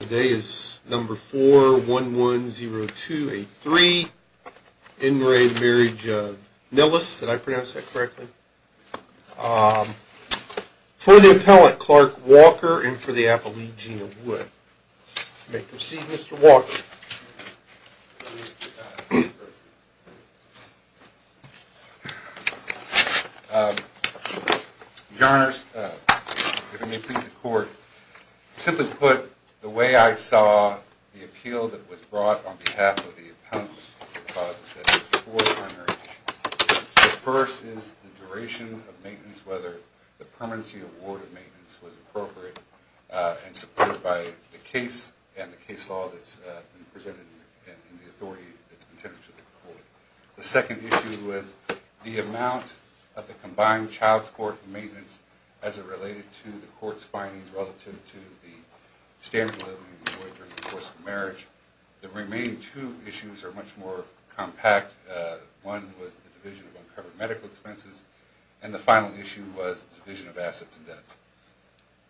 Today is number 4110283 in re Marriage of Nilles. Did I pronounce that correctly for the appellate Clark Walker and for the Appalachian would make the scene. Mr. Walker. Your Honor's court simply put the way I saw the appeal that was brought on behalf of the first is the duration of maintenance, whether the permanency award of maintenance was appropriate and supported by the case and the case law that's presented in the The second issue was the amount of the combined child support and maintenance as it related to the court's findings relative to the standard of living of the boy during the course of the marriage. The remaining two issues are much more compact. One was the division of uncovered medical expenses and the final issue was the division of assets and debts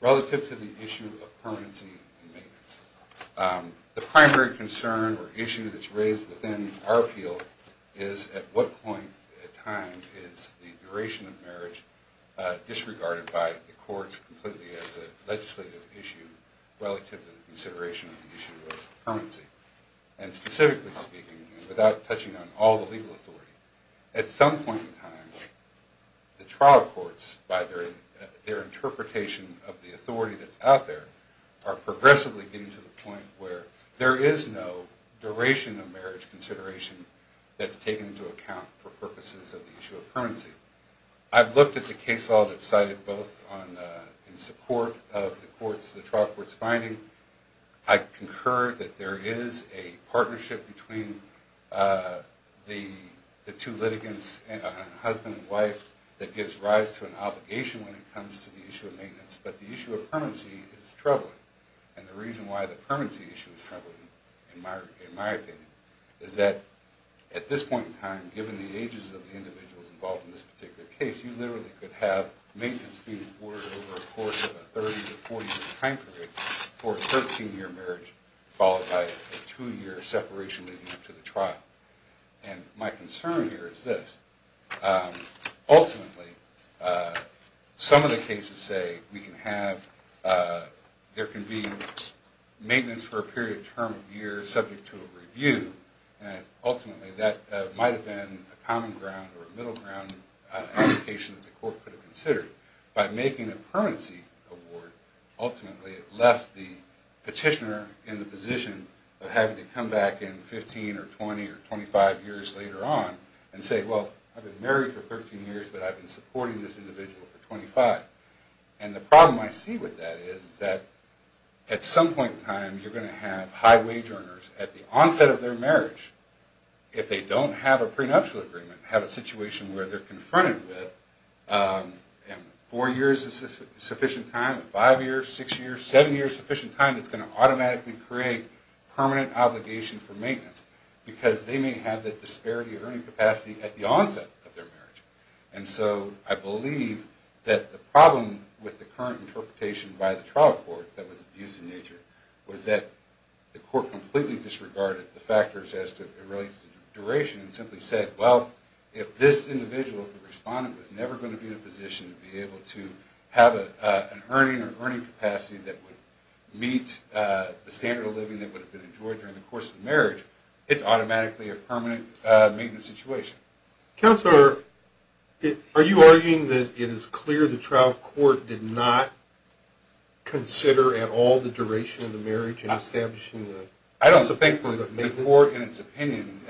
relative to the issue of permanency and maintenance. The primary concern or issue that's raised within our appeal is at what point in time is the duration of marriage disregarded by the courts completely as a legislative issue relative to the consideration of the issue of permanency. At some point in time, the trial courts by their interpretation of the authority that's out there are progressively getting to the point where there is no duration of marriage consideration that's taken into account for purposes of the issue of permanency. I've looked at the case law that's cited both in support of the trial court's finding. I concur that there is a partnership between the two litigants, husband and wife, that gives rise to an obligation when it comes to the issue of maintenance. But the issue of permanency is troubling. And the reason why the permanency issue is troubling, in my opinion, is that at this point in time, given the ages of the individuals involved in this particular case, you literally could have maintenance being ordered over a course of a 30 to 40-year time period for a 13-year marriage followed by a two-year separation leading up to the trial. And my concern here is this. Ultimately, some of the cases say there can be maintenance for a period of a term of a year subject to a review, and ultimately that might have been a common ground or a middle ground application that the court could have considered. By making a permanency award, ultimately it left the petitioner in the position of having to come back in 15 or 20 or 25 years later on and say, well, I've been married for 13 years, but I've been supporting this individual for 25. And the problem I see with that is that at some point in time, you're going to have high-wage earners at the onset of their marriage, if they don't have a prenuptial agreement, have a situation where they're confronted with four years of sufficient time, five years, six years, seven years of sufficient time that's going to automatically create permanent obligation for maintenance because they may have that disparity of earning capacity at the onset of their marriage. And so I believe that the problem with the current interpretation by the trial court that was abusive in nature was that the court completely disregarded the factors as to the duration and simply said, well, if this individual, if the respondent, was never going to be in a position to be able to have an earning or earning capacity that would meet the standard of living that would have been enjoyed during the course of the marriage, it's automatically a permanent maintenance situation. Counselor, are you arguing that it is clear the trial court did not consider at all the duration of the marriage in establishing the... I don't think the court in its opinion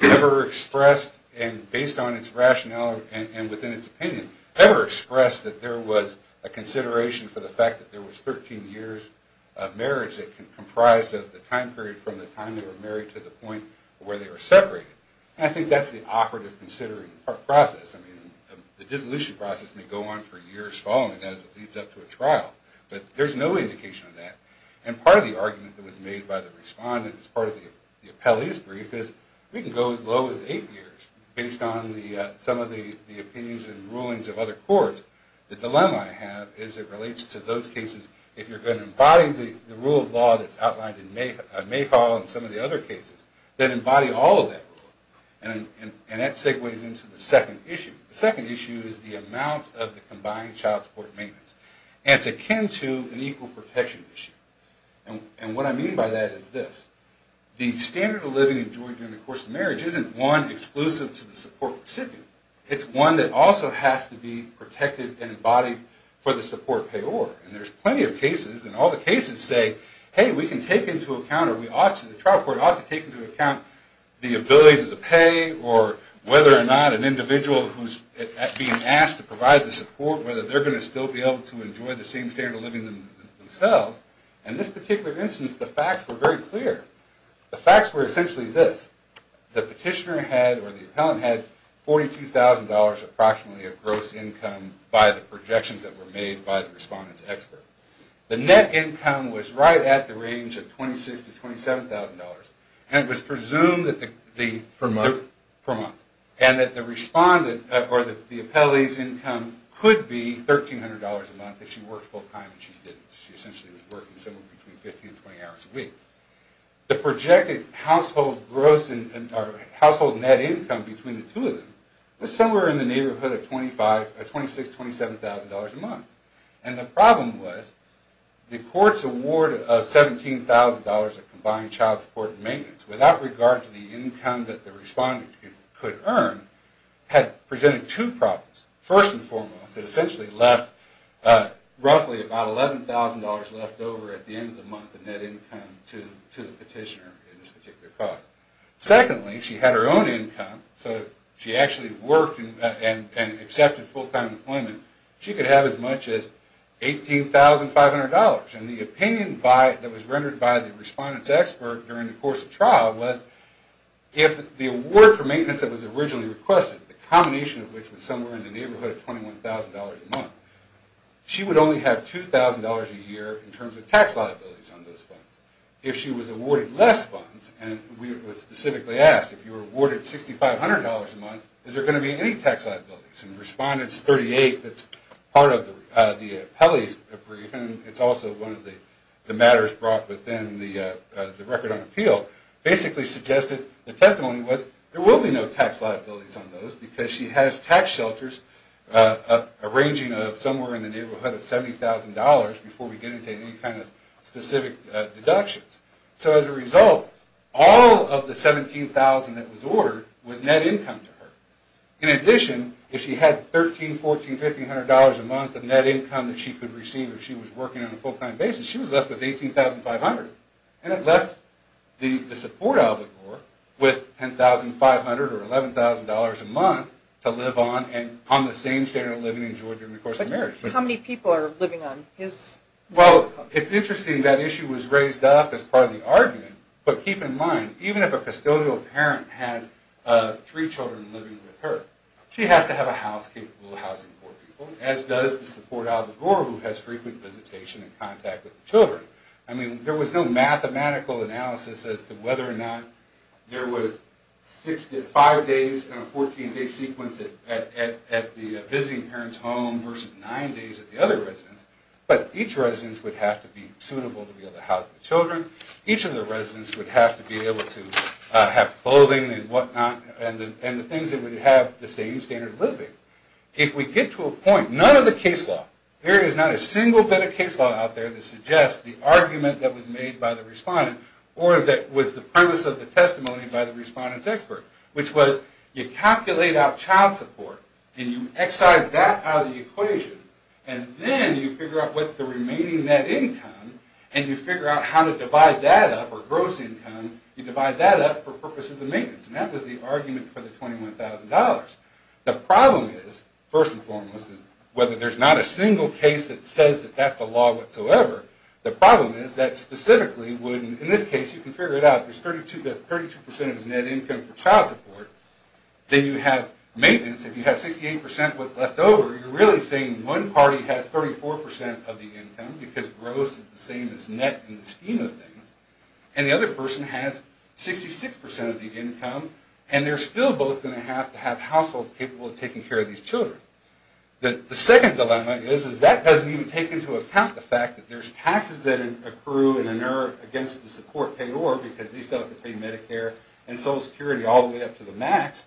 ever expressed, and based on its rationale and within its opinion, ever expressed that there was a consideration for the fact that there was 13 years of marriage that comprised of the time period from the time they were married to the point where they were separated. And I think that's the operative considering process. I mean, the dissolution process may go on for years following as it leads up to a trial. But there's no indication of that. And part of the argument that was made by the respondent as part of the appellee's brief is we can go as low as eight years based on some of the opinions and rulings of other courts. The dilemma I have is it relates to those cases, if you're going to embody the rule of law that's outlined in Mayhaw and some of the other cases, then embody all of that rule. And that segues into the second issue. The second issue is the amount of the combined child support and maintenance. And it's akin to an equal protection issue. And what I mean by that is this. The standard of living enjoyed during the course of marriage isn't one exclusive to the support recipient. It's one that also has to be protected and embodied for the support payor. And there's plenty of cases, and all the cases say, hey, we can take into account or the trial court ought to take into account the ability to pay or whether or not an individual who's being asked to provide the support, whether they're going to still be able to enjoy the same standard of living themselves. In this particular instance, the facts were very clear. The facts were essentially this. The petitioner had or the appellant had $42,000 approximately of gross income by the projections that were made by the respondent's expert. The net income was right at the range of $26,000 to $27,000. And it was presumed that the... Per month. Per month. And that the respondent or the appellee's income could be $1,300 a month if she worked full time and she didn't. She essentially was working somewhere between 15 and 20 hours a week. The projected household gross or household net income between the two of them was somewhere in the neighborhood of $26,000 to $27,000 a month. And the problem was the court's award of $17,000 of combined child support and maintenance without regard to the income that the respondent could earn had presented two problems. First and foremost, it essentially left roughly about $11,000 left over at the end of the month of net income to the petitioner in this particular cause. Secondly, she had her own income, so if she actually worked and accepted full time employment, she could have as much as $18,500. And the opinion that was rendered by the respondent's expert during the course of trial was if the award for maintenance that was originally requested, the combination of which was somewhere in the neighborhood of $21,000 a month, she would only have $2,000 a year in terms of tax liabilities on those funds. If she was awarded less funds, and we were specifically asked if you were awarded $6,500 a month, is there going to be any tax liabilities? And Respondent 38, that's part of the appellee's brief, and it's also one of the matters brought within the record on appeal, basically suggested the testimony was there will be no tax liabilities on those because she has tax shelters arranging somewhere in the neighborhood of $70,000 before we get into any kind of specific deductions. So as a result, all of the $17,000 that was ordered was net income to her. In addition, if she had $13,000, $14,000, $15,000 a month of net income that she could receive if she was working on a full time basis, she was left with $18,500, and it left the support albegore with $10,500 or $11,000 a month to live on, and on the same standard of living enjoyed during the course of marriage. How many people are living on his income? Well, it's interesting that issue was raised up as part of the argument, but keep in mind, even if a custodial parent has three children living with her, she has to have a house capable of housing four people, as does the support albedore who has frequent visitation and contact with the children. I mean, there was no mathematical analysis as to whether or not there was five days in a 14-day sequence at the visiting parent's home versus nine days at the other residence, but each residence would have to be suitable to be able to house the children. Each of the residences would have to be able to have clothing and whatnot, and the things that would have the same standard of living. If we get to a point, none of the case law, there is not a single bit of case law out there that suggests the argument that was made by the respondent, or that was the premise of the testimony by the respondent's expert, which was you calculate out child support, and you excise that out of the equation, and then you figure out what's the remaining net income, and you figure out how to divide that up, or gross income, you divide that up for purposes of maintenance, and that was the argument for the $21,000. The problem is, first and foremost, is whether there's not a single case that says that that's the law whatsoever, the problem is that specifically, in this case, you can figure it out, there's 32% of his net income for child support, then you have maintenance, if you have 68% of what's left over, you're really saying one party has 34% of the income, because gross is the same as net in the scheme of things, and the other person has 66% of the income, and they're still both going to have to have households capable of taking care of these children. The second dilemma is that doesn't even take into account the fact that there's taxes that accrue and inert against the support payor, because they still have to pay Medicare and Social Security all the way up to the max,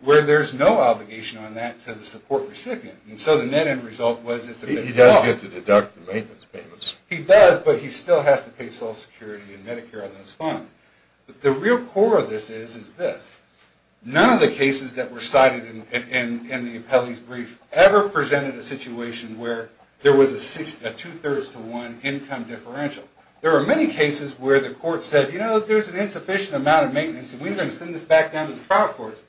where there's no obligation on that to the support recipient, and so the net end result was that it's a big flaw. He does get to deduct the maintenance payments. He does, but he still has to pay Social Security and Medicare on those funds. But the real core of this is this. None of the cases that were cited in the appellee's brief ever presented a situation where there was a two-thirds to one income differential. There were many cases where the court said, you know, there's an insufficient amount of maintenance and we're going to send this back down to the trial courts.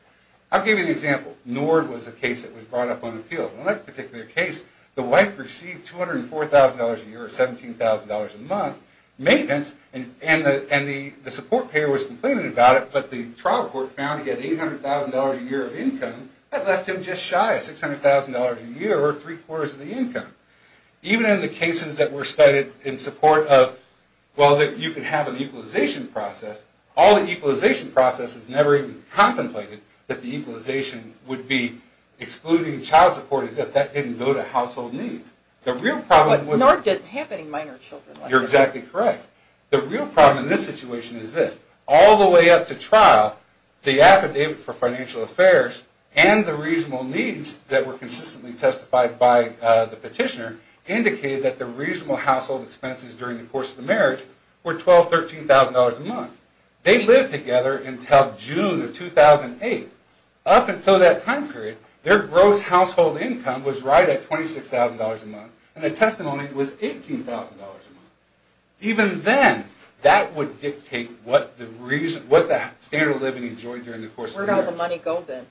I'll give you an example. Nord was a case that was brought up on appeal. In that particular case, the wife received $204,000 a year or $17,000 a month, maintenance, and the support payor was complaining about it, but the trial court found he had $800,000 a year of income. That left him just shy of $600,000 a year or three-quarters of the income. Even in the cases that were cited in support of, well, that you can have an equalization process, all the equalization processes never even contemplated that the equalization would be excluding child support as if that didn't go to household needs. But Nord didn't have any minor children. You're exactly correct. The real problem in this situation is this. All the way up to trial, the affidavit for financial affairs and the reasonable needs that were consistently testified by the petitioner indicated that the reasonable household expenses during the course of the marriage were $12,000, $13,000 a month. They lived together until June of 2008. Up until that time period, their gross household income was right at $26,000 a month, and the testimony was $18,000 a month. Even then, that would dictate what the standard of living enjoyed during the course of the marriage. Where did all the money go then?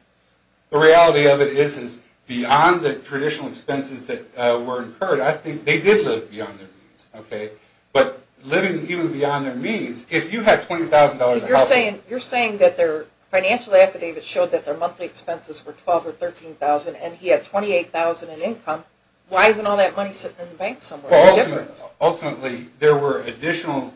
The reality of it is, is beyond the traditional expenses that were incurred, I think they did live beyond their means, okay? But living even beyond their means, if you had $20,000 of household... You're saying that their financial affidavit showed that their monthly expenses were $12,000 or $13,000, and he had $28,000 in income. Why isn't all that money sitting in the bank somewhere? Ultimately, there were additional...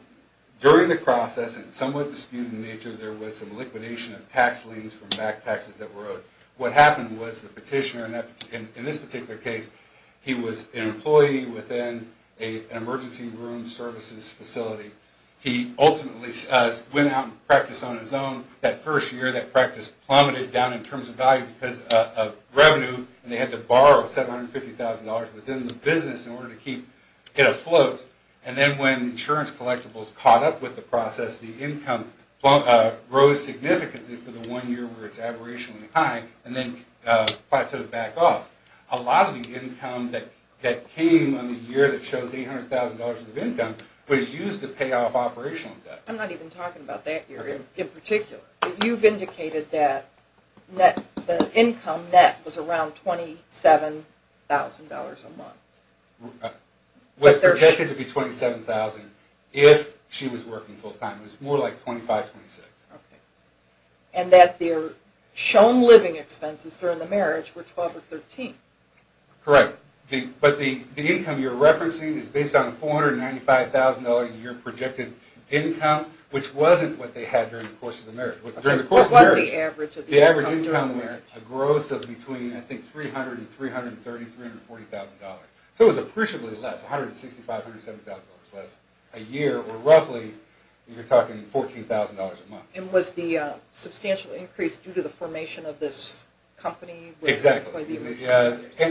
During the process, and somewhat disputed in nature, there was some liquidation of tax liens from back taxes that were owed. What happened was the petitioner, in this particular case, he was an employee within an emergency room services facility. He ultimately went out and practiced on his own. That first year, that practice plummeted down in terms of value because of revenue, and they had to borrow $750,000 within the business in order to get afloat. And then when insurance collectibles caught up with the process, the income rose significantly for the one year where it's aberrationally high, and then plateaued back off. A lot of the income that came on the year that shows $800,000 of income was used to pay off operational debt. I'm not even talking about that year in particular. You've indicated that the income net was around $27,000 a month. It was projected to be $27,000 if she was working full-time. It was more like $25,000, $26,000. And that their shown living expenses during the marriage were $12,000 or $13,000. Correct. But the income you're referencing is based on a $495,000 a year projected income, which wasn't what they had during the course of the marriage. What was the average of the income during the marriage? The average income was a gross of between, I think, $300,000 and $330,000, $340,000. So it was appreciably less, $165,000, $170,000 less a year, or roughly, you're talking $14,000 a month. Exactly. And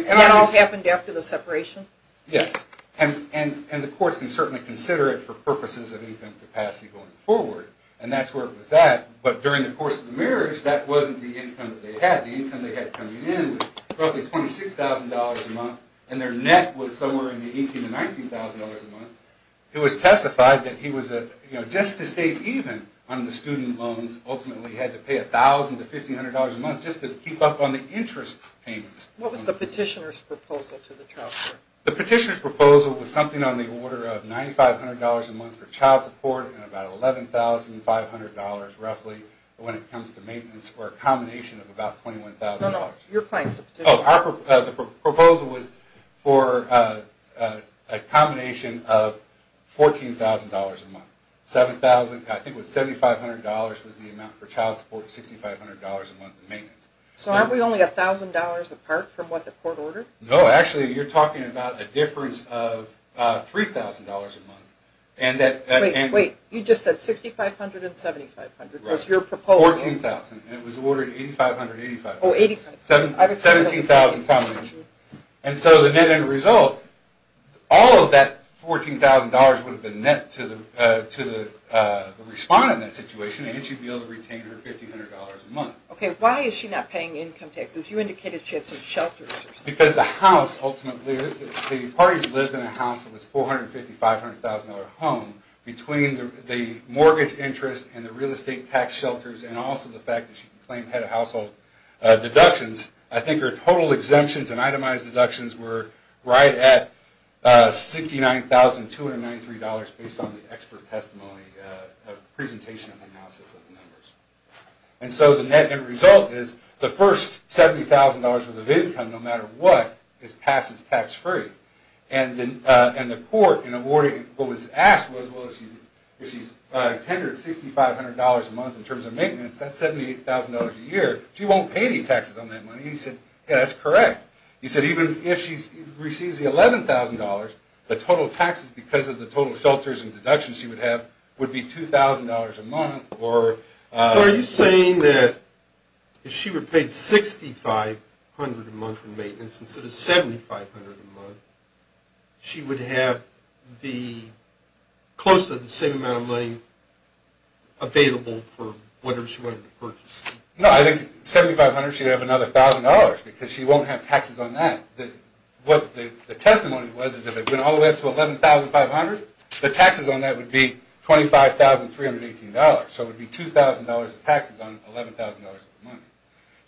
that all happened after the separation? Yes. And the courts can certainly consider it for purposes of income capacity going forward. And that's where it was at. But during the course of the marriage, that wasn't the income that they had. The income they had coming in was roughly $26,000 a month, and their net was somewhere in the $18,000 to $19,000 a month. It was testified that he was, just to stay even on the student loans, ultimately had to pay $1,000 to $1,500 a month just to keep up on the interest payments. What was the petitioner's proposal to the child support? The petitioner's proposal was something on the order of $9,500 a month for child support and about $11,500 roughly when it comes to maintenance for a combination of about $21,000. No, no, your client's the petitioner. The proposal was for a combination of $14,000 a month. I think it was $7,500 was the amount for child support, $6,500 a month in maintenance. So aren't we only $1,000 apart from what the court ordered? No, actually you're talking about a difference of $3,000 a month. Wait, you just said $6,500 and $7,500 was your proposal. $14,000. It was ordered $8,500 and $8,500. Oh, $8,500. $17,000 combination. And so the net end result, all of that $14,000 would have been net to the respondent in that situation and she'd be able to retain her $1,500 a month. Okay, why is she not paying income taxes? You indicated she had some shelters or something. Because the house ultimately, the parties lived in a house that was a $450,000-$500,000 home between the mortgage interest and the real estate tax shelters and also the fact that she could claim head of household deductions. I think her total exemptions and itemized deductions were right at $69,293 based on the expert testimony presentation analysis of the numbers. And so the net end result is the first $70,000 worth of income, no matter what, is passed as tax-free. And the court in awarding what was asked was, well, if she's tendered $6,500 a month in terms of maintenance, that's $78,000 a year, she won't pay any taxes on that money. And you said, yeah, that's correct. You said even if she receives the $11,000, the total taxes because of the total shelters and deductions she would have would be $2,000 a month or... So are you saying that if she were paid $6,500 a month in maintenance instead of $7,500 a month, she would have close to the same amount of money available for whatever she wanted to purchase? No, I think $7,500, she'd have another $1,000 because she won't have taxes on that. The testimony was that if it went all the way up to $11,500, the taxes on that would be $25,318. So it would be $2,000 of taxes on $11,000 of money.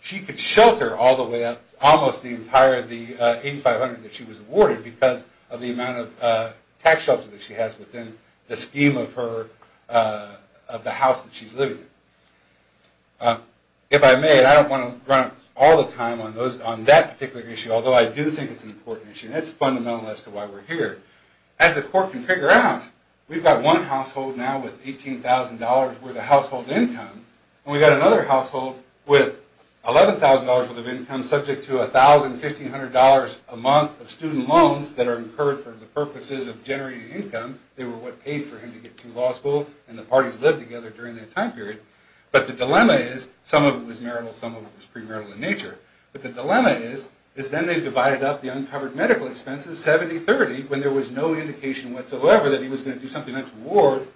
She could shelter all the way up to almost the entire $8,500 that she was awarded because of the amount of tax shelter that she has within the scheme of the house that she's living in. If I may, and I don't want to run up all the time on that particular issue, although I do think it's an important issue and it's fundamental as to why we're here. As the court can figure out, we've got one household now with $18,000 worth of household income and we've got another household with $11,000 worth of income subject to $1,000, $1,500 a month of student loans that are incurred for the purposes of generating income. They were what paid for him to get through law school and the parties lived together during that time period. But the dilemma is, some of it was marital, some of it was premarital in nature, but the dilemma is then they divided up the uncovered medical expenses 70-30 when there was no indication whatsoever that he was going to do something else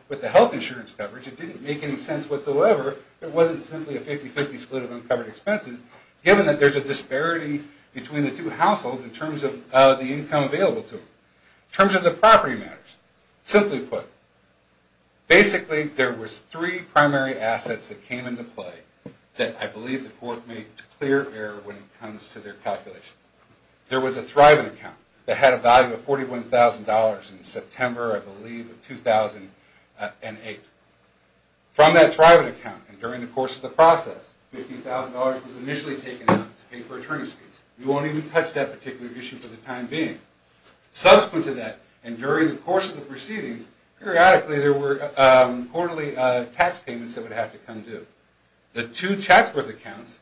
with the health insurance coverage. It didn't make any sense whatsoever. It wasn't simply a 50-50 split of uncovered expenses given that there's a disparity between the two households in terms of the income available to them. In terms of the property matters, simply put, basically there was three primary assets that came into play that I believe the court made clear error when it comes to their calculations. There was a Thriven account that had a value of $41,000 in September, I believe, of 2008. From that Thriven account and during the course of the process, $15,000 was initially taken out to pay for attorney's fees. We won't even touch that particular issue for the time being. Subsequent to that and during the course of the proceedings, periodically there were quarterly tax payments that would have to come due. The two Chatsworth accounts,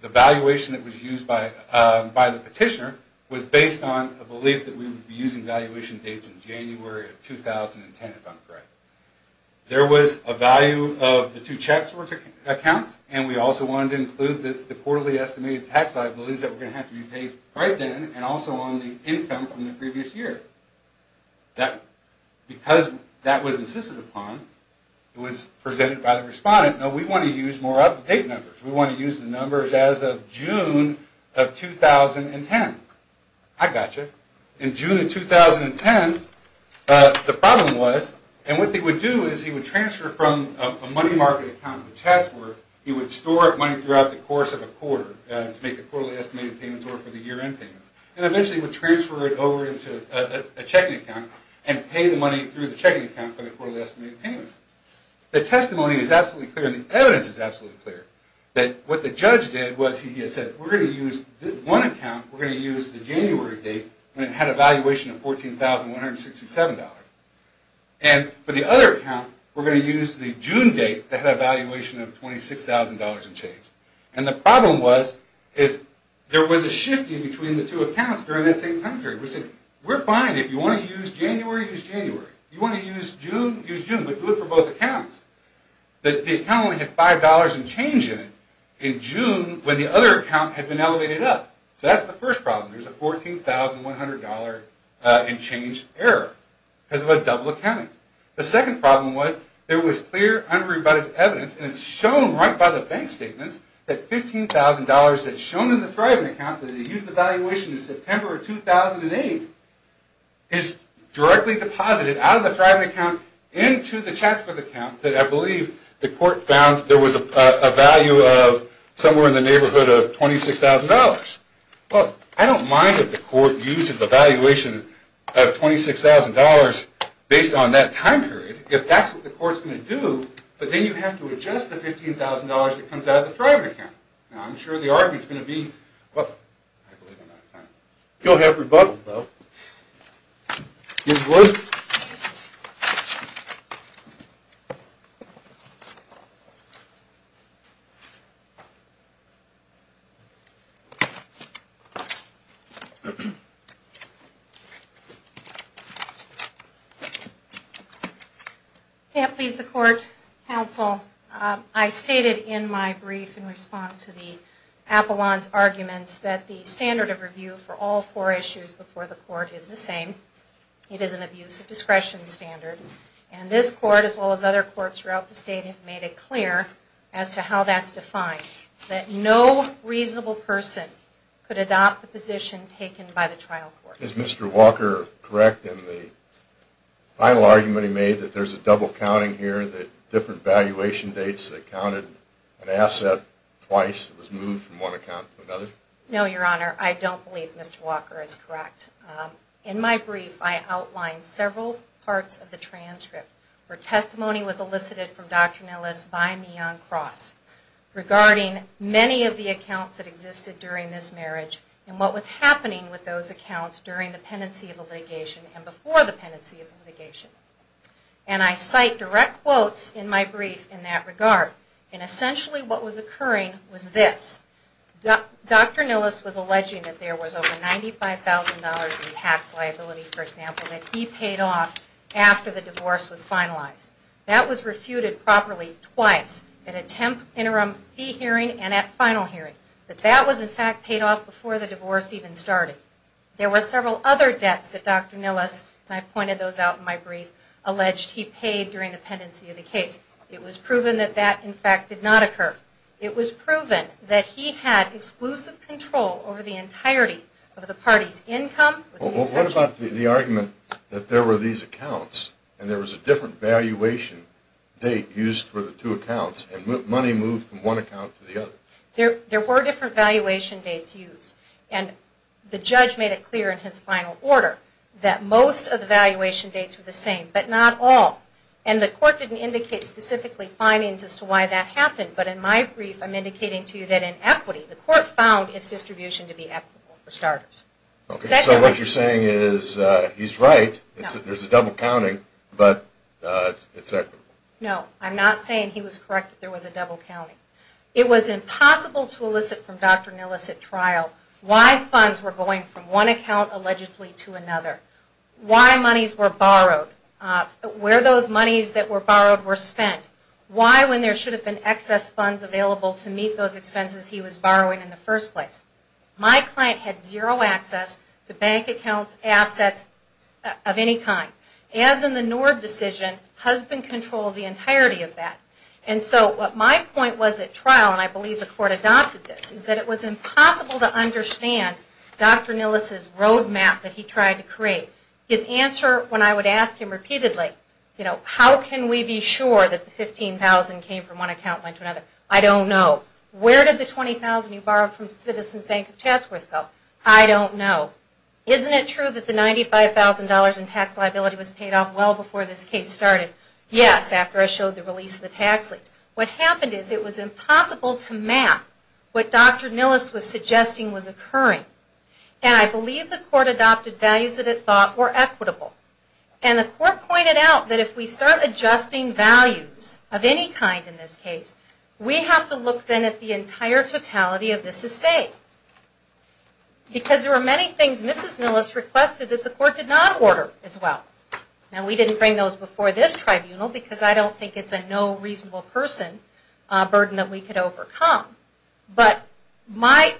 the valuation that was used by the petitioner, was based on a belief that we would be using valuation dates in January of 2010, if I'm correct. There was a value of the two Chatsworth accounts and we also wanted to include the quarterly estimated tax liabilities that were going to have to be paid right then and also on the income from the previous year. Because that was insisted upon, it was presented by the respondent. No, we want to use more up-to-date numbers. We want to use the numbers as of June of 2010. I got you. In June of 2010, the problem was, and what they would do is he would transfer from a money market account to Chatsworth, he would store up money throughout the course of a quarter to make the quarterly estimated payments or for the year-end payments, and eventually would transfer it over into a checking account and pay the money through the checking account for the quarterly estimated payments. The testimony is absolutely clear and the evidence is absolutely clear that what the judge did was he said, we're going to use one account, we're going to use the January date when it had a valuation of $14,167. And for the other account, we're going to use the June date that had a valuation of $26,000 and change. And the problem was, is there was a shifting between the two accounts during that same time period. We said, we're fine if you want to use January, use January. If you want to use June, use June, but do it for both accounts. The account only had $5 in change in it in June when the other account had been elevated up. So that's the first problem, there's a $14,100 in change error because of a double accounting. The second problem was, there was clear unrebutted evidence and it's shown right by the bank statements that $15,000 that's shown in the Thriven account that they used the valuation in September of 2008 is directly deposited out of the Thriven account into the Chatsworth account that I believe the court found there was a value of somewhere in the neighborhood of $26,000. Well, I don't mind if the court uses a valuation of $26,000 based on that time period, if that's what the court's going to do, but then you have to adjust the $15,000 that comes out of the Thriven account. Now I'm sure the argument's going to be, well, I believe I'm out of time. You'll have rebuttal, though. Ms. Wood? Yeah, please, the court, counsel. I stated in my brief in response to the Apollon's arguments that the standard of review for all four issues before the court is the same. It is an abuse of discretion standard. And this court, as well as other courts throughout the state, have made it clear as to how that's defined, that no reasonable person could adopt the position taken by the trial court. Is Mr. Walker correct in the final argument he made that there's a double counting here, that different valuation dates that counted an asset twice was moved from one account to another? No, Your Honor, I don't believe Mr. Walker is correct. In my brief, I outlined several parts of the transcript where testimony was elicited from Dr. Nellis by me on cross regarding many of the accounts that existed during this marriage and what was happening with those accounts during the pendency of the litigation and before the pendency of the litigation. And I cite direct quotes in my brief in that regard. And essentially what was occurring was this. Dr. Nellis was alleging that there was over $95,000 in tax liability, for example, that he paid off after the divorce was finalized. That was refuted properly twice, at a temp interim fee hearing and at final hearing. That that was, in fact, paid off before the divorce even started. There were several other debts that Dr. Nellis, and I've pointed those out in my brief, alleged he paid during the pendency of the case. It was proven that that, in fact, did not occur. It was proven that he had exclusive control over the entirety of the party's income. What about the argument that there were these accounts and there was a different valuation date used for the two accounts and money moved from one account to the other? There were different valuation dates used. And the judge made it clear in his final order that most of the valuation dates were the same, but not all. And the court didn't indicate specifically findings as to why that happened. But in my brief, I'm indicating to you that in equity, the court found its distribution to be equitable, for starters. Okay, so what you're saying is he's right, there's a double counting, but it's equitable. No, I'm not saying he was correct that there was a double counting. It was impossible to elicit from Dr. Nellis at trial why funds were going from one account allegedly to another, why monies were borrowed, where those monies that were borrowed were spent, why when there should have been excess funds available to meet those expenses he was borrowing in the first place. My client had zero access to bank accounts, assets of any kind. As in the Nord decision, husband control of the entirety of that. And so what my point was at trial, and I believe the court adopted this, is that it was impossible to understand Dr. Nellis' roadmap that he tried to create. His answer when I would ask him repeatedly, you know, how can we be sure that the $15,000 came from one account and went to another? I don't know. Where did the $20,000 you borrowed from Citizens Bank of Chatsworth go? I don't know. Isn't it true that the $95,000 in tax liability was paid off well before this case started? Yes, after I showed the release of the tax lease. What happened is it was impossible to map what Dr. Nellis was suggesting was occurring. And I believe the court adopted values that it thought were equitable. And the court pointed out that if we start adjusting values of any kind in this case, we have to look then at the entire totality of this estate. Because there were many things Mrs. Nellis requested that the court did not order as well. Now we didn't bring those before this tribunal because I don't think it's a no reasonable person burden that we could overcome. But my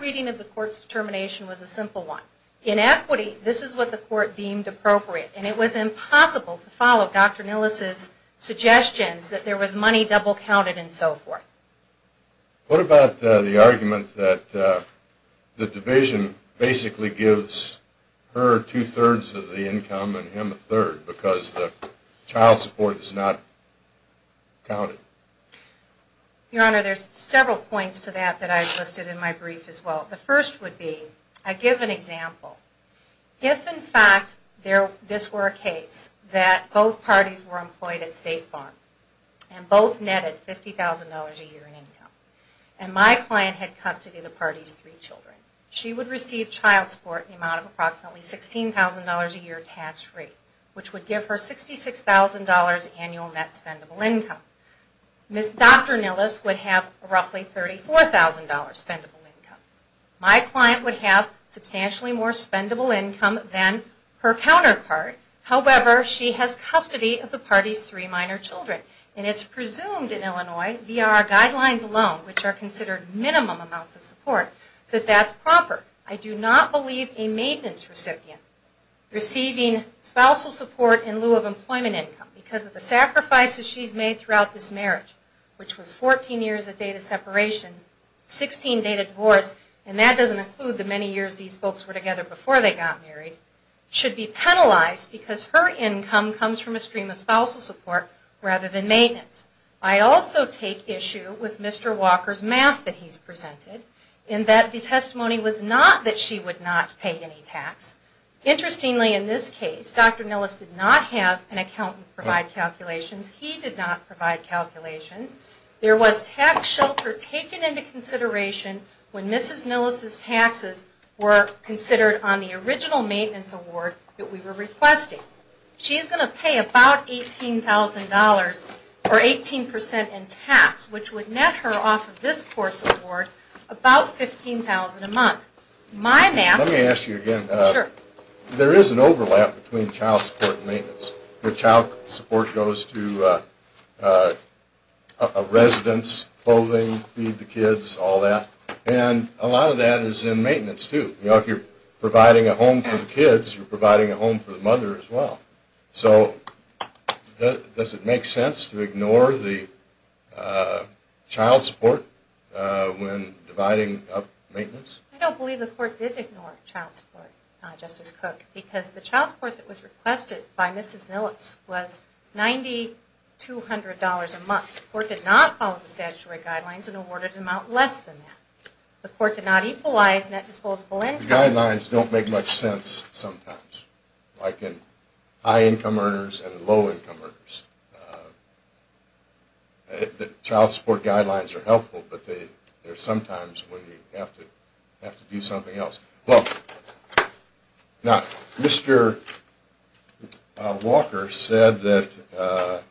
reading of the court's determination was a simple one. Inequity, this is what the court deemed appropriate. And it was impossible to follow Dr. Nellis' suggestions that there was money double counted and so forth. What about the argument that the division basically gives her two-thirds of the income and him a third because the child support is not counted? Your Honor, there's several points to that that I've listed in my brief as well. The first would be, I give an example. If in fact this were a case that both parties were employed at state funds and both netted $50,000 a year in income, and my client had custody of the party's three children, she would receive child support in the amount of approximately $16,000 a year tax rate, which would give her $66,000 annual net spendable income. Dr. Nellis would have roughly $34,000 spendable income. My client would have substantially more spendable income than her counterpart. However, she has custody of the party's three minor children. And it's presumed in Illinois, via our guidelines alone, which are considered minimum amounts of support, that that's proper. I do not believe a maintenance recipient receiving spousal support in lieu of employment income because of the sacrifices she's made throughout this marriage, which was 14 years of data separation, 16 data divorce, and that doesn't include the many years these folks were together before they got married, should be penalized because her income comes from a stream of spousal support rather than maintenance. I also take issue with Mr. Walker's math that he's presented, in that the testimony was not that she would not pay any tax. Interestingly, in this case, Dr. Nellis did not have an accountant provide calculations. He did not provide calculations. There was tax shelter taken into consideration when Mrs. Nellis' taxes were considered on the original maintenance award that we were requesting. She's going to pay about $18,000 for 18% in tax, which would net her off of this court's award about $15,000 a month. Let me ask you again. There is an overlap between child support and maintenance. Child support goes to a residence, clothing, feed the kids, all that, and a lot of that is in maintenance too. If you're providing a home for the kids, you're providing a home for the mother as well. So does it make sense to ignore the child support when dividing up maintenance? I don't believe the court did ignore child support, Justice Cook, because the child support that was requested by Mrs. Nellis was $9,200 a month. The court did not follow the statutory guidelines and awarded an amount less than that. The court did not equalize net disposable income. Guidelines don't make much sense sometimes, like in high-income earners and low-income earners. Child support guidelines are helpful, but they're sometimes when you have to do something else. Now, Mr. Walker said that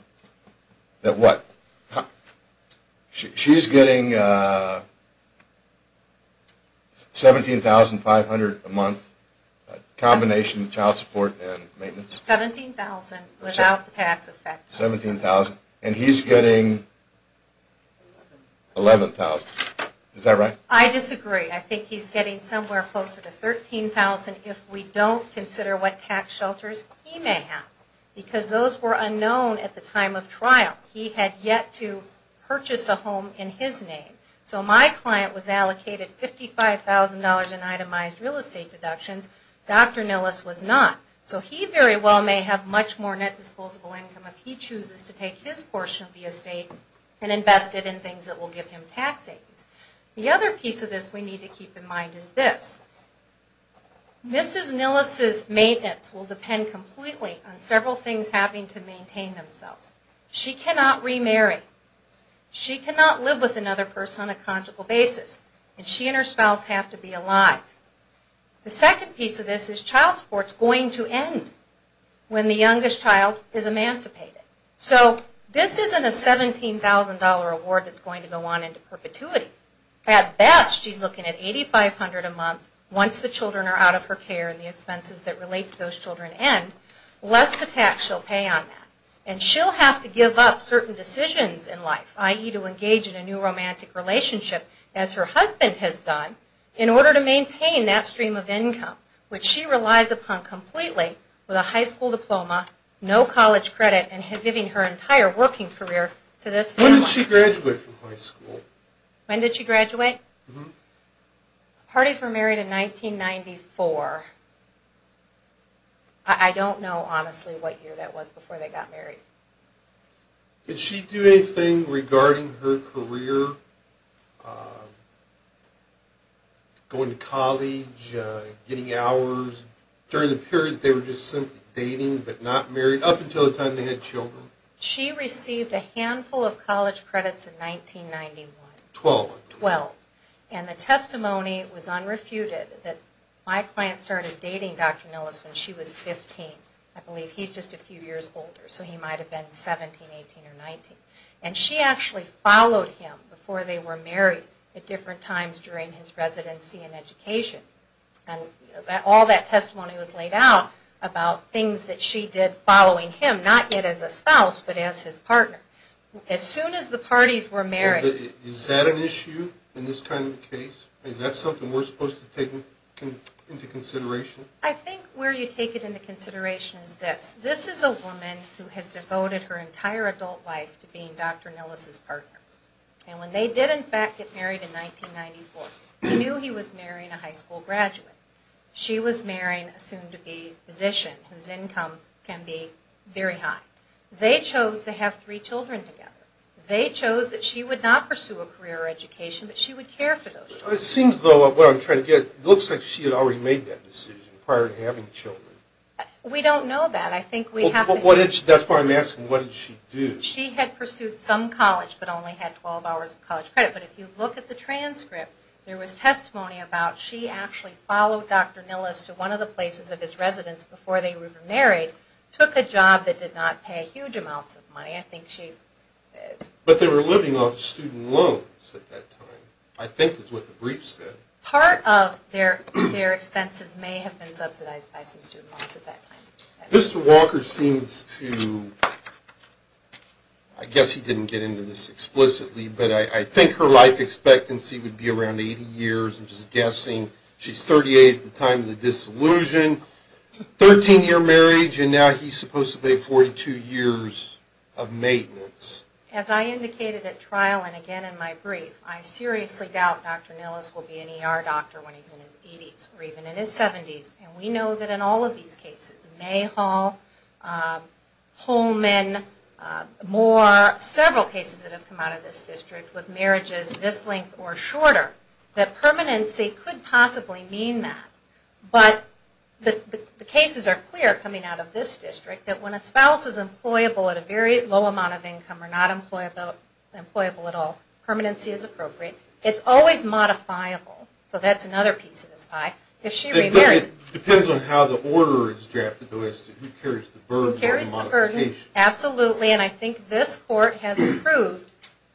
she's getting $17,500 a month, a combination of child support and maintenance. $17,000 without the tax effect. $17,000, and he's getting $11,000. Is that right? I disagree. I think he's getting somewhere closer to $13,000 if we don't consider what tax shelters he may have, because those were unknown at the time of trial. He had yet to purchase a home in his name. So my client was allocated $55,000 in itemized real estate deductions. Dr. Nellis was not. So he very well may have much more net disposable income if he chooses to take his portion of the estate and invest it in things that will give him tax savings. The other piece of this we need to keep in mind is this. Mrs. Nellis' maintenance will depend completely on several things having to maintain themselves. She cannot remarry. She cannot live with another person on a conjugal basis. And she and her spouse have to be alive. The second piece of this is child support is going to end when the youngest child is emancipated. So this isn't a $17,000 award that's going to go on into perpetuity. At best, she's looking at $8,500 a month. Once the children are out of her care and the expenses that relate to those children end, less the tax she'll pay on that. And she'll have to give up certain decisions in life, i.e. to engage in a new romantic relationship, as her husband has done, in order to maintain that stream of income, which she relies upon completely with a high school diploma, no college credit, and giving her entire working career to this family. When did she graduate from high school? When did she graduate? The parties were married in 1994. I don't know, honestly, what year that was before they got married. Did she do anything regarding her career, going to college, getting hours? During the period they were just simply dating but not married, up until the time they had children? She received a handful of college credits in 1991. Twelve, I believe. Twelve. And the testimony was unrefuted, that my client started dating Dr. Nellis when she was 15. I believe he's just a few years older, so he might have been 17, 18, or 19. And she actually followed him before they were married, at different times during his residency and education. And all that testimony was laid out about things that she did following him, not yet as a spouse, but as his partner. As soon as the parties were married... Is that an issue in this kind of case? Is that something we're supposed to take into consideration? I think where you take it into consideration is this. This is a woman who has devoted her entire adult life to being Dr. Nellis' partner. And when they did, in fact, get married in 1994, he knew he was marrying a high school graduate. She was marrying a soon-to-be physician, whose income can be very high. They chose to have three children together. They chose that she would not pursue a career or education, but she would care for those children. It seems, though, like she had already made that decision prior to having children. We don't know that. That's why I'm asking, what did she do? She had pursued some college, but only had 12 hours of college credit. But if you look at the transcript, there was testimony about she actually followed Dr. Nellis to one of the places of his residence before they were married, took a job that did not pay huge amounts of money. But they were living off student loans at that time, which I think is what the brief said. Part of their expenses may have been subsidized by some student loans at that time. Mr. Walker seems to... I guess he didn't get into this explicitly, but I think her life expectancy would be around 80 years. I'm just guessing. She's 38 at the time of the disillusion. 13-year marriage, and now he's supposed to pay 42 years of maintenance. As I indicated at trial and again in my brief, I seriously doubt Dr. Nellis will be an ER doctor when he's in his 80s, or even in his 70s. And we know that in all of these cases, Mayhall, Holman, Moore, several cases that have come out of this district, with marriages this length or shorter, that permanency could possibly mean that. But the cases are clear coming out of this district, that when a spouse is employable at a very low amount of income or not employable at all, permanency is appropriate. It's always modifiable. So that's another piece of this pie. If she remarries... It depends on how the order is drafted. Who carries the burden of the modification. Absolutely. And I think this court has approved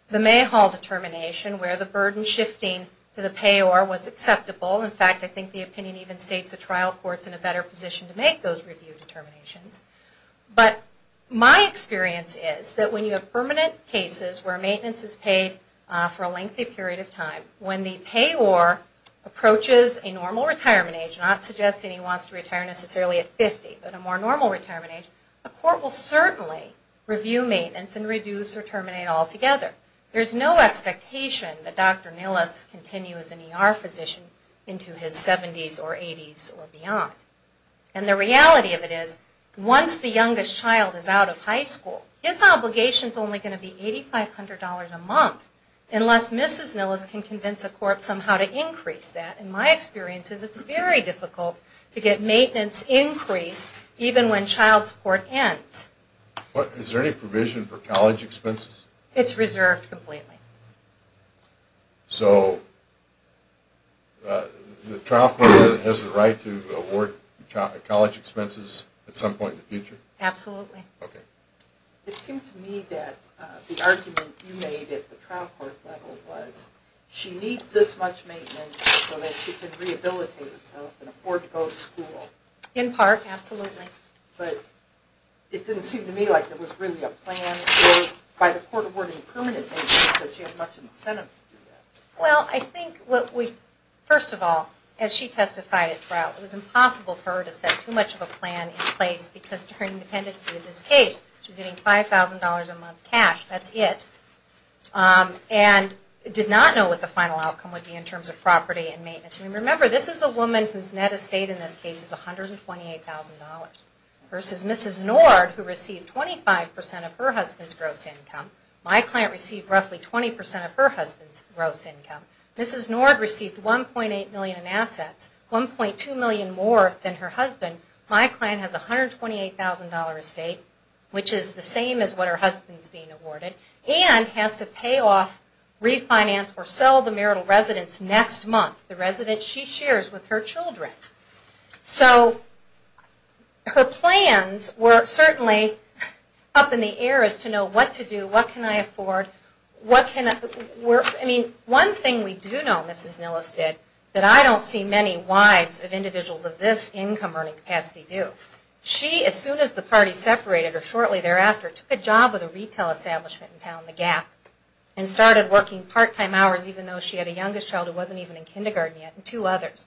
the Mayhall determination where the burden shifting to the payor was acceptable. In fact, I think the opinion even states the trial court's in a better position to make those review determinations. But my experience is that when you have permanent cases where maintenance is paid for a lengthy period of time, when the payor approaches a normal retirement age, not suggesting he wants to retire necessarily at 50, but a more normal retirement age, a court will certainly review maintenance and reduce or terminate altogether. There's no expectation that Dr. Nilles continues as an ER physician into his 70s or 80s or beyond. And the reality of it is, once the youngest child is out of high school, his obligation is only going to be $8,500 a month unless Mrs. Nilles can convince a court somehow to increase that. In my experience, it's very difficult to get maintenance increased even when child support ends. Is there any provision for college expenses? It's reserved completely. So the trial court has the right to award college expenses at some point in the future? Absolutely. Okay. It seemed to me that the argument you made at the trial court level was she needs this much maintenance so that she can rehabilitate herself and afford to go to school. In part, absolutely. But it didn't seem to me like there was really a plan by the court awarding permanent maintenance so she had much incentive to do that. Well, I think, first of all, as she testified at trial, it was impossible for her to set too much of a plan in place because during the pendency of this case, she was getting $5,000 a month cash. That's it. And did not know what the final outcome would be in terms of property and maintenance. Remember, this is a woman whose net estate in this case is $128,000 versus Mrs. Nord who received 25% of her husband's gross income. My client received roughly 20% of her husband's gross income. Mrs. Nord received $1.8 million in assets, $1.2 million more than her husband. My client has a $128,000 estate, which is the same as what her husband is being awarded, and has to pay off, refinance, or sell the marital residence next month, the residence she shares with her children. So her plans were certainly up in the air as to know what to do, what can I afford, what can I... I mean, one thing we do know, Mrs. Nilles did, that I don't see many wives of individuals of this income earning capacity do. She, as soon as the party separated her, shortly thereafter, took a job with a retail establishment in town, The Gap, and started working part-time hours even though she had a youngest child who wasn't even in kindergarten yet, and two others.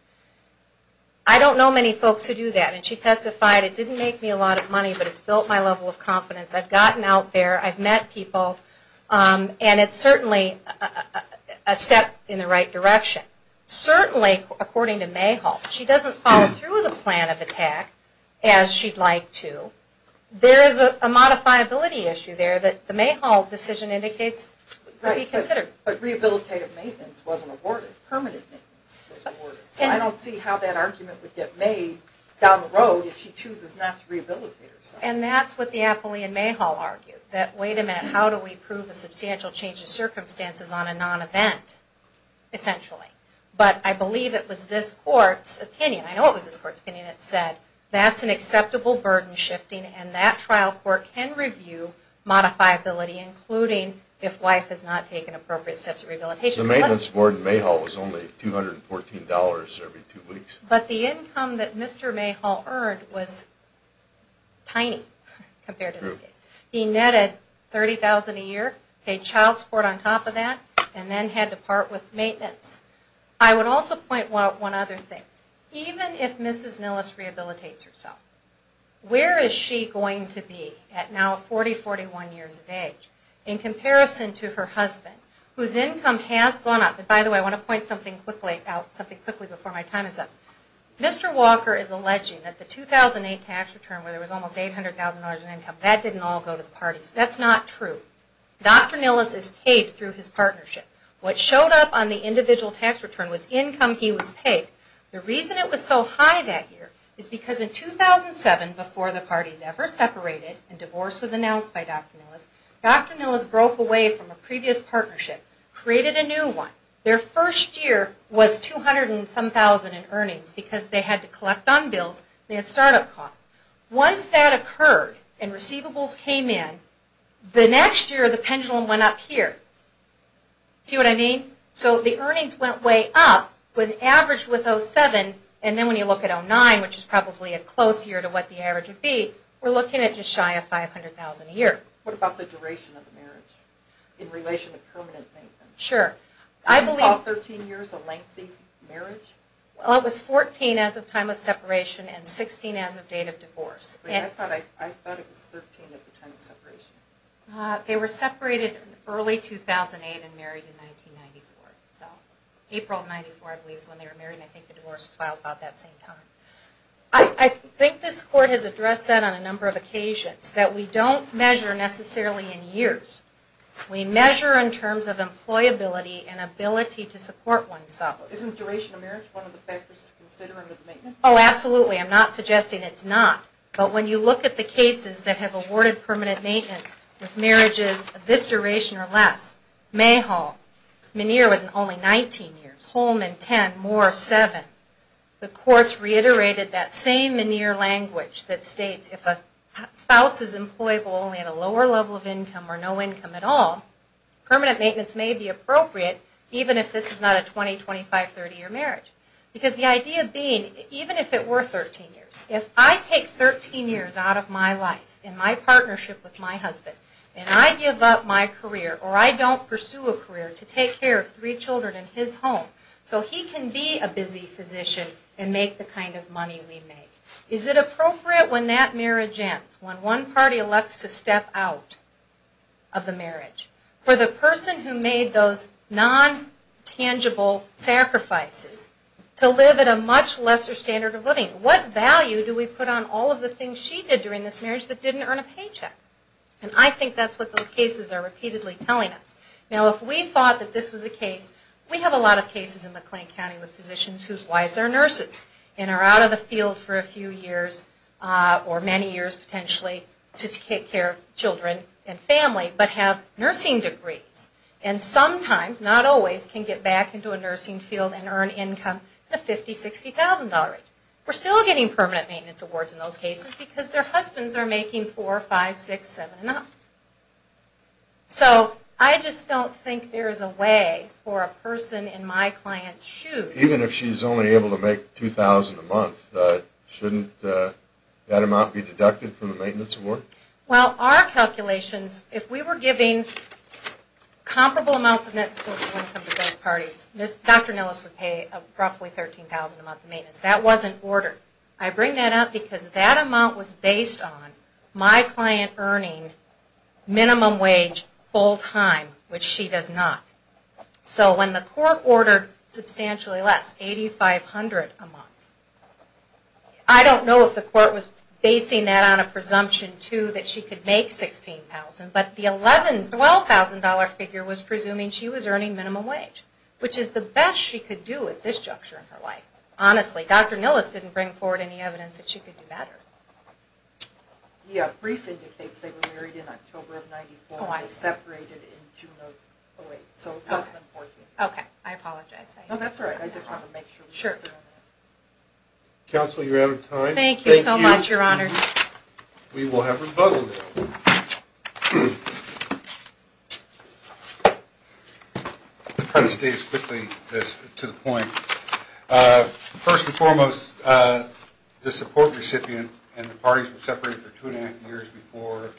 I don't know many folks who do that, and she testified, it didn't make me a lot of money, but it's built my level of confidence. I've gotten out there, I've met people, and it's certainly a step in the right direction. Certainly, according to Mayhall, she doesn't follow through with a plan of attack as she'd like to. There is a modifiability issue there that the Mayhall decision indicates could be considered. But rehabilitative maintenance wasn't awarded. Permanent maintenance was awarded. So I don't see how that argument would get made down the road if she chooses not to rehabilitate herself. And that's what the appellee in Mayhall argued, that wait a minute, how do we prove a substantial change of circumstances on a non-event, essentially. But I believe it was this court's opinion, I know it was this court's opinion, that said that's an acceptable burden shifting, and that trial court can review modifiability, including if wife has not taken appropriate steps of rehabilitation. The maintenance board in Mayhall was only $214 every two weeks. But the income that Mr. Mayhall earned was tiny compared to this case. He netted $30,000 a year, paid child support on top of that, and then had to part with maintenance. I would also point out one other thing. Even if Mrs. Nilles rehabilitates herself, where is she going to be at now 40, 41 years of age, in comparison to her husband, whose income has gone up. And by the way, I want to point something quickly out, something quickly before my time is up. Mr. Walker is alleging that the 2008 tax return, where there was almost $800,000 in income, that didn't all go to the parties. That's not true. Dr. Nilles is paid through his partnership. What showed up on the individual tax return was income he was paid. The reason it was so high that year is because in 2007, before the parties ever separated and divorce was announced by Dr. Nilles, Dr. Nilles broke away from a previous partnership, created a new one. Their first year was $200,000 in earnings because they had to collect on bills. They had startup costs. Once that occurred and receivables came in, the next year the pendulum went up here. See what I mean? So the earnings went way up, averaged with 07, and then when you look at 09, which is probably a close year to what the average would be, we're looking at just shy of $500,000 a year. What about the duration of the marriage in relation to permanent maintenance? Sure. Can you call 13 years a lengthy marriage? Well, it was 14 as of time of separation and 16 as of date of divorce. I thought it was 13 at the time of separation. They were separated in early 2008 and married in 1994. So April of 1994, I believe, is when they were married, and I think the divorce was filed about that same time. I think this court has addressed that on a number of occasions, that we don't measure necessarily in years. We measure in terms of employability and ability to support oneself. Isn't duration of marriage one of the factors in considering the maintenance? Oh, absolutely. I'm not suggesting it's not. But when you look at the cases that have awarded permanent maintenance with marriages of this duration or less, May Hall, Meniere was only 19 years, Holman, 10, Moore, 7, the courts reiterated that same Meniere language that states if a spouse is employable only at a lower level of income or no income at all, permanent maintenance may be appropriate, even if this is not a 20-, 25-, 30-year marriage. Because the idea being, even if it were 13 years, if I take 13 years out of my life in my partnership with my husband, and I give up my career, or I don't pursue a career to take care of three children in his home, so he can be a busy physician and make the kind of money we make, is it appropriate when that marriage ends, when one party elects to step out of the marriage, for the person who made those non-tangible sacrifices to live at a much lesser standard of living? What value do we put on all of the things she did during this marriage that didn't earn a paycheck? And I think that's what those cases are repeatedly telling us. Now, if we thought that this was the case, we have a lot of cases in McLean County with physicians whose wives are nurses and are out of the field for a few years, or many years potentially, to take care of children and family, but have nursing degrees. And sometimes, not always, can get back into a nursing field and earn income at a $50,000, $60,000 rate. We're still getting permanent maintenance awards in those cases because their husbands are making $4,000, $5,000, $6,000, $7,000 and up. So, I just don't think there's a way for a person in my client's shoes... Even if she's only able to make $2,000 a month, shouldn't that amount be deducted from the maintenance award? Well, our calculations, if we were giving comparable amounts of net sports to income to both parties, Dr. Nellis would pay roughly $13,000 a month in maintenance. That wasn't ordered. I bring that up because that amount was based on my client earning minimum wage full-time, which she does not. So, when the court ordered substantially less, $8,500 a month, I don't know if the court was basing that on a presumption, too, that she could make $16,000, but the $11,000, $12,000 figure was presuming she was earning minimum wage, which is the best she could do at this juncture in her life. Honestly, Dr. Nellis didn't bring forward any evidence that she could do better. Yeah, brief indicates they were married in October of 1994 and separated in June of... Oh, wait. So, 2014. Okay. I apologize. No, that's all right. I just wanted to make sure. Sure. Counsel, you're out of time. Thank you so much, Your Honor. We will have rebuttal now. I'll try to state this quickly to the point. First and foremost, the support recipient and the parties were separated for two and a half years before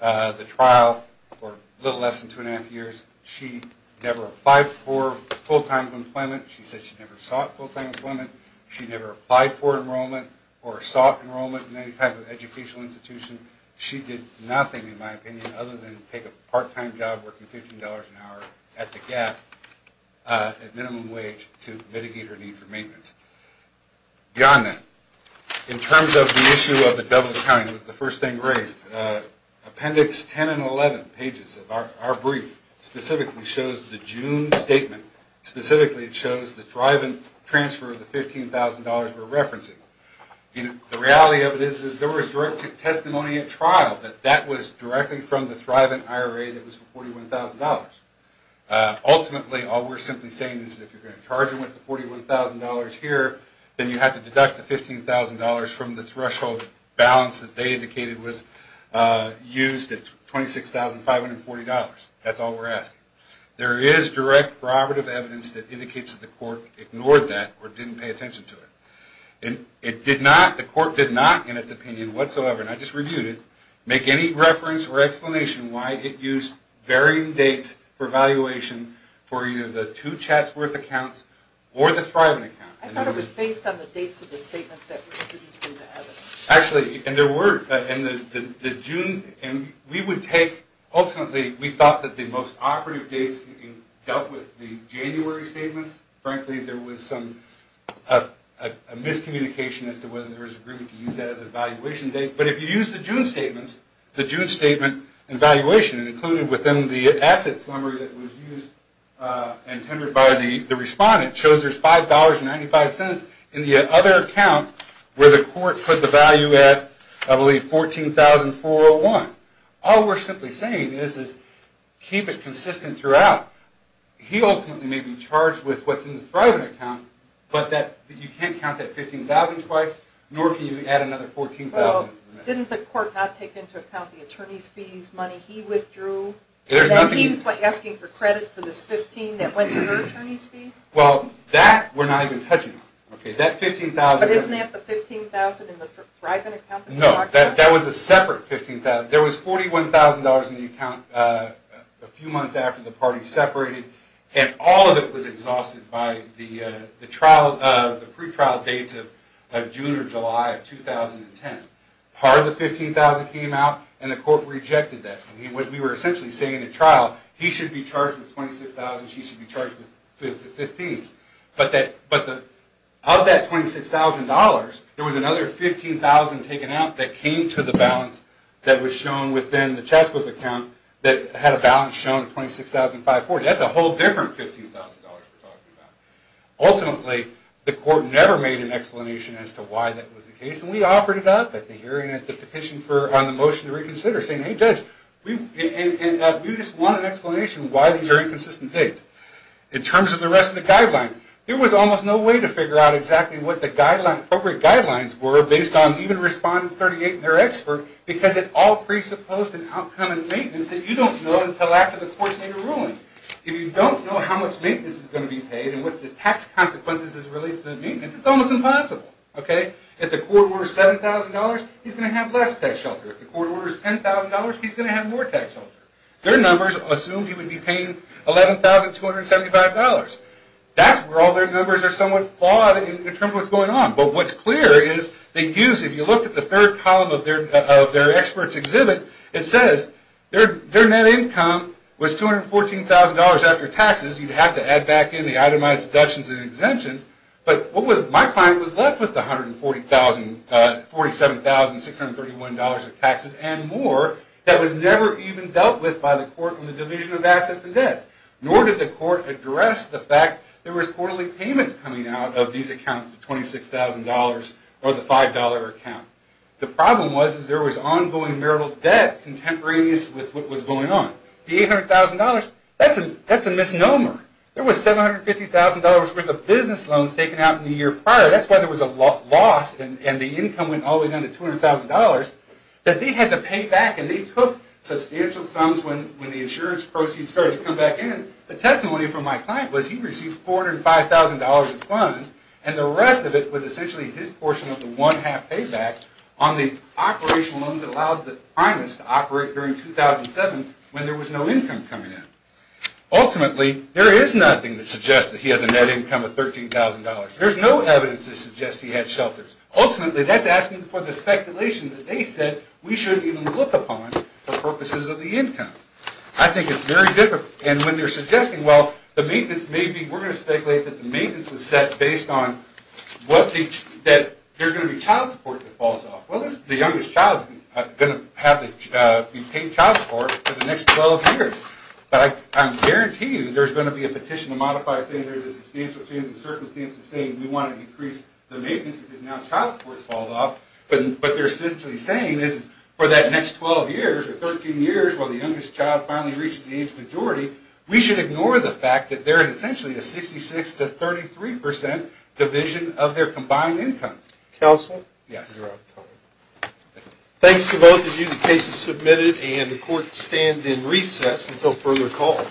the trial, or a little less than two and a half years. She never applied for full-time employment. She said she never sought full-time employment. She never applied for enrollment or sought enrollment in any type of educational institution. She did nothing, in my opinion, other than take a part-time job working $15 an hour at the Gap at minimum wage to mitigate her need for maintenance. Beyond that, in terms of the issue of the double accounting, it was the first thing raised. Appendix 10 and 11 pages of our brief specifically shows the June statement. Specifically, it shows the drive-in transfer of the $15,000 we're referencing. The reality of it is there was direct testimony at trial, but that was directly from the drive-in IRA that was for $41,000. Ultimately, all we're simply saying is if you're going to charge them with the $41,000 here, then you have to deduct the $15,000 from the threshold balance that they indicated was used at $26,540. That's all we're asking. There is direct corroborative evidence that indicates that the court ignored that or didn't pay attention to it. The court did not, in its opinion whatsoever, and I just reviewed it, make any reference or explanation why it used varying dates for valuation for either the two Chatsworth accounts or the Thriven account. I thought it was based on the dates of the statements that were used in the evidence. Actually, there were. Ultimately, we thought that the most operative dates dealt with the January statements. Frankly, there was some miscommunication as to whether there was agreement to use that as a valuation date. But if you use the June statements, the June statement and valuation included within the assets summary that was used and tendered by the respondent shows there's $5.95 in the other account where the court put the value at, I believe, $14,401. All we're simply saying is keep it consistent throughout. Now, he ultimately may be charged with what's in the Thriven account, but you can't count that $15,000 twice, nor can you add another $14,000. Didn't the court not take into account the attorney's fees money he withdrew? He was asking for credit for this $15,000 that went to her attorney's fees? Well, that we're not even touching on. But isn't that the $15,000 in the Thriven account? No, that was a separate $15,000. There was $41,000 in the account a few months after the parties separated, and all of it was exhausted by the pretrial dates of June or July of 2010. Part of the $15,000 came out, and the court rejected that. We were essentially saying at trial he should be charged with $26,000, she should be charged with $15,000. But of that $26,000, there was another $15,000 taken out that came to the balance that was shown within the Chatsworth account that had a balance shown at $26,540. That's a whole different $15,000 we're talking about. Ultimately, the court never made an explanation as to why that was the case, and we offered it up at the hearing at the petition on the motion to reconsider, saying, hey judge, we just want an explanation why these are inconsistent dates. In terms of the rest of the guidelines, there was almost no way to figure out exactly what the appropriate guidelines were based on even Respondent 38 and their expert, because it all presupposed an outcome in maintenance that you don't know until after the court's made a ruling. If you don't know how much maintenance is going to be paid and what's the tax consequences as related to the maintenance, it's almost impossible. If the court orders $7,000, he's going to have less tax shelter. If the court orders $10,000, he's going to have more tax shelter. Their numbers assumed he would be paying $11,275. That's where all their numbers are somewhat flawed in terms of what's going on. But what's clear is they used, if you look at the third column of their expert's exhibit, it says their net income was $214,000 after taxes. You'd have to add back in the itemized deductions and exemptions. But what was my client was left with the $147,631 of taxes and more that was never even dealt with by the court on the division of assets and debts. Nor did the court address the fact there was quarterly payments coming out of these accounts, the $26,000 or the $5 account. The problem was there was ongoing marital debt contemporaneous with what was going on. The $800,000, that's a misnomer. There was $750,000 worth of business loans taken out in the year prior. That's why there was a loss and the income went all the way down to $200,000 that they had to pay back. And they took substantial sums when the insurance proceeds started to come back in. The testimony from my client was he received $405,000 in funds and the rest of it was essentially his portion of the one-half payback on the operational loans that allowed the primus to operate during 2007 when there was no income coming in. Ultimately, there is nothing that suggests that he has a net income of $13,000. There's no evidence that suggests he had shelters. Ultimately, that's asking for the speculation that they said we shouldn't even look upon for purposes of the income. I think it's very difficult. And when they're suggesting, well, the maintenance may be, we're going to speculate that the maintenance was set based on that there's going to be child support that falls off. Well, the youngest child is going to have to be paid child support for the next 12 years. But I guarantee you there's going to be a petition to modify saying there's a substantial change in circumstances saying we want to increase the maintenance because now child support has fallen off. But they're essentially saying for that next 12 years or 13 years while the youngest child finally reaches the age majority, we should ignore the fact that there is essentially a 66% to 33% division of their combined income. Counsel? Yes. Thanks to both of you. The case is submitted and the court stands in recess until further call.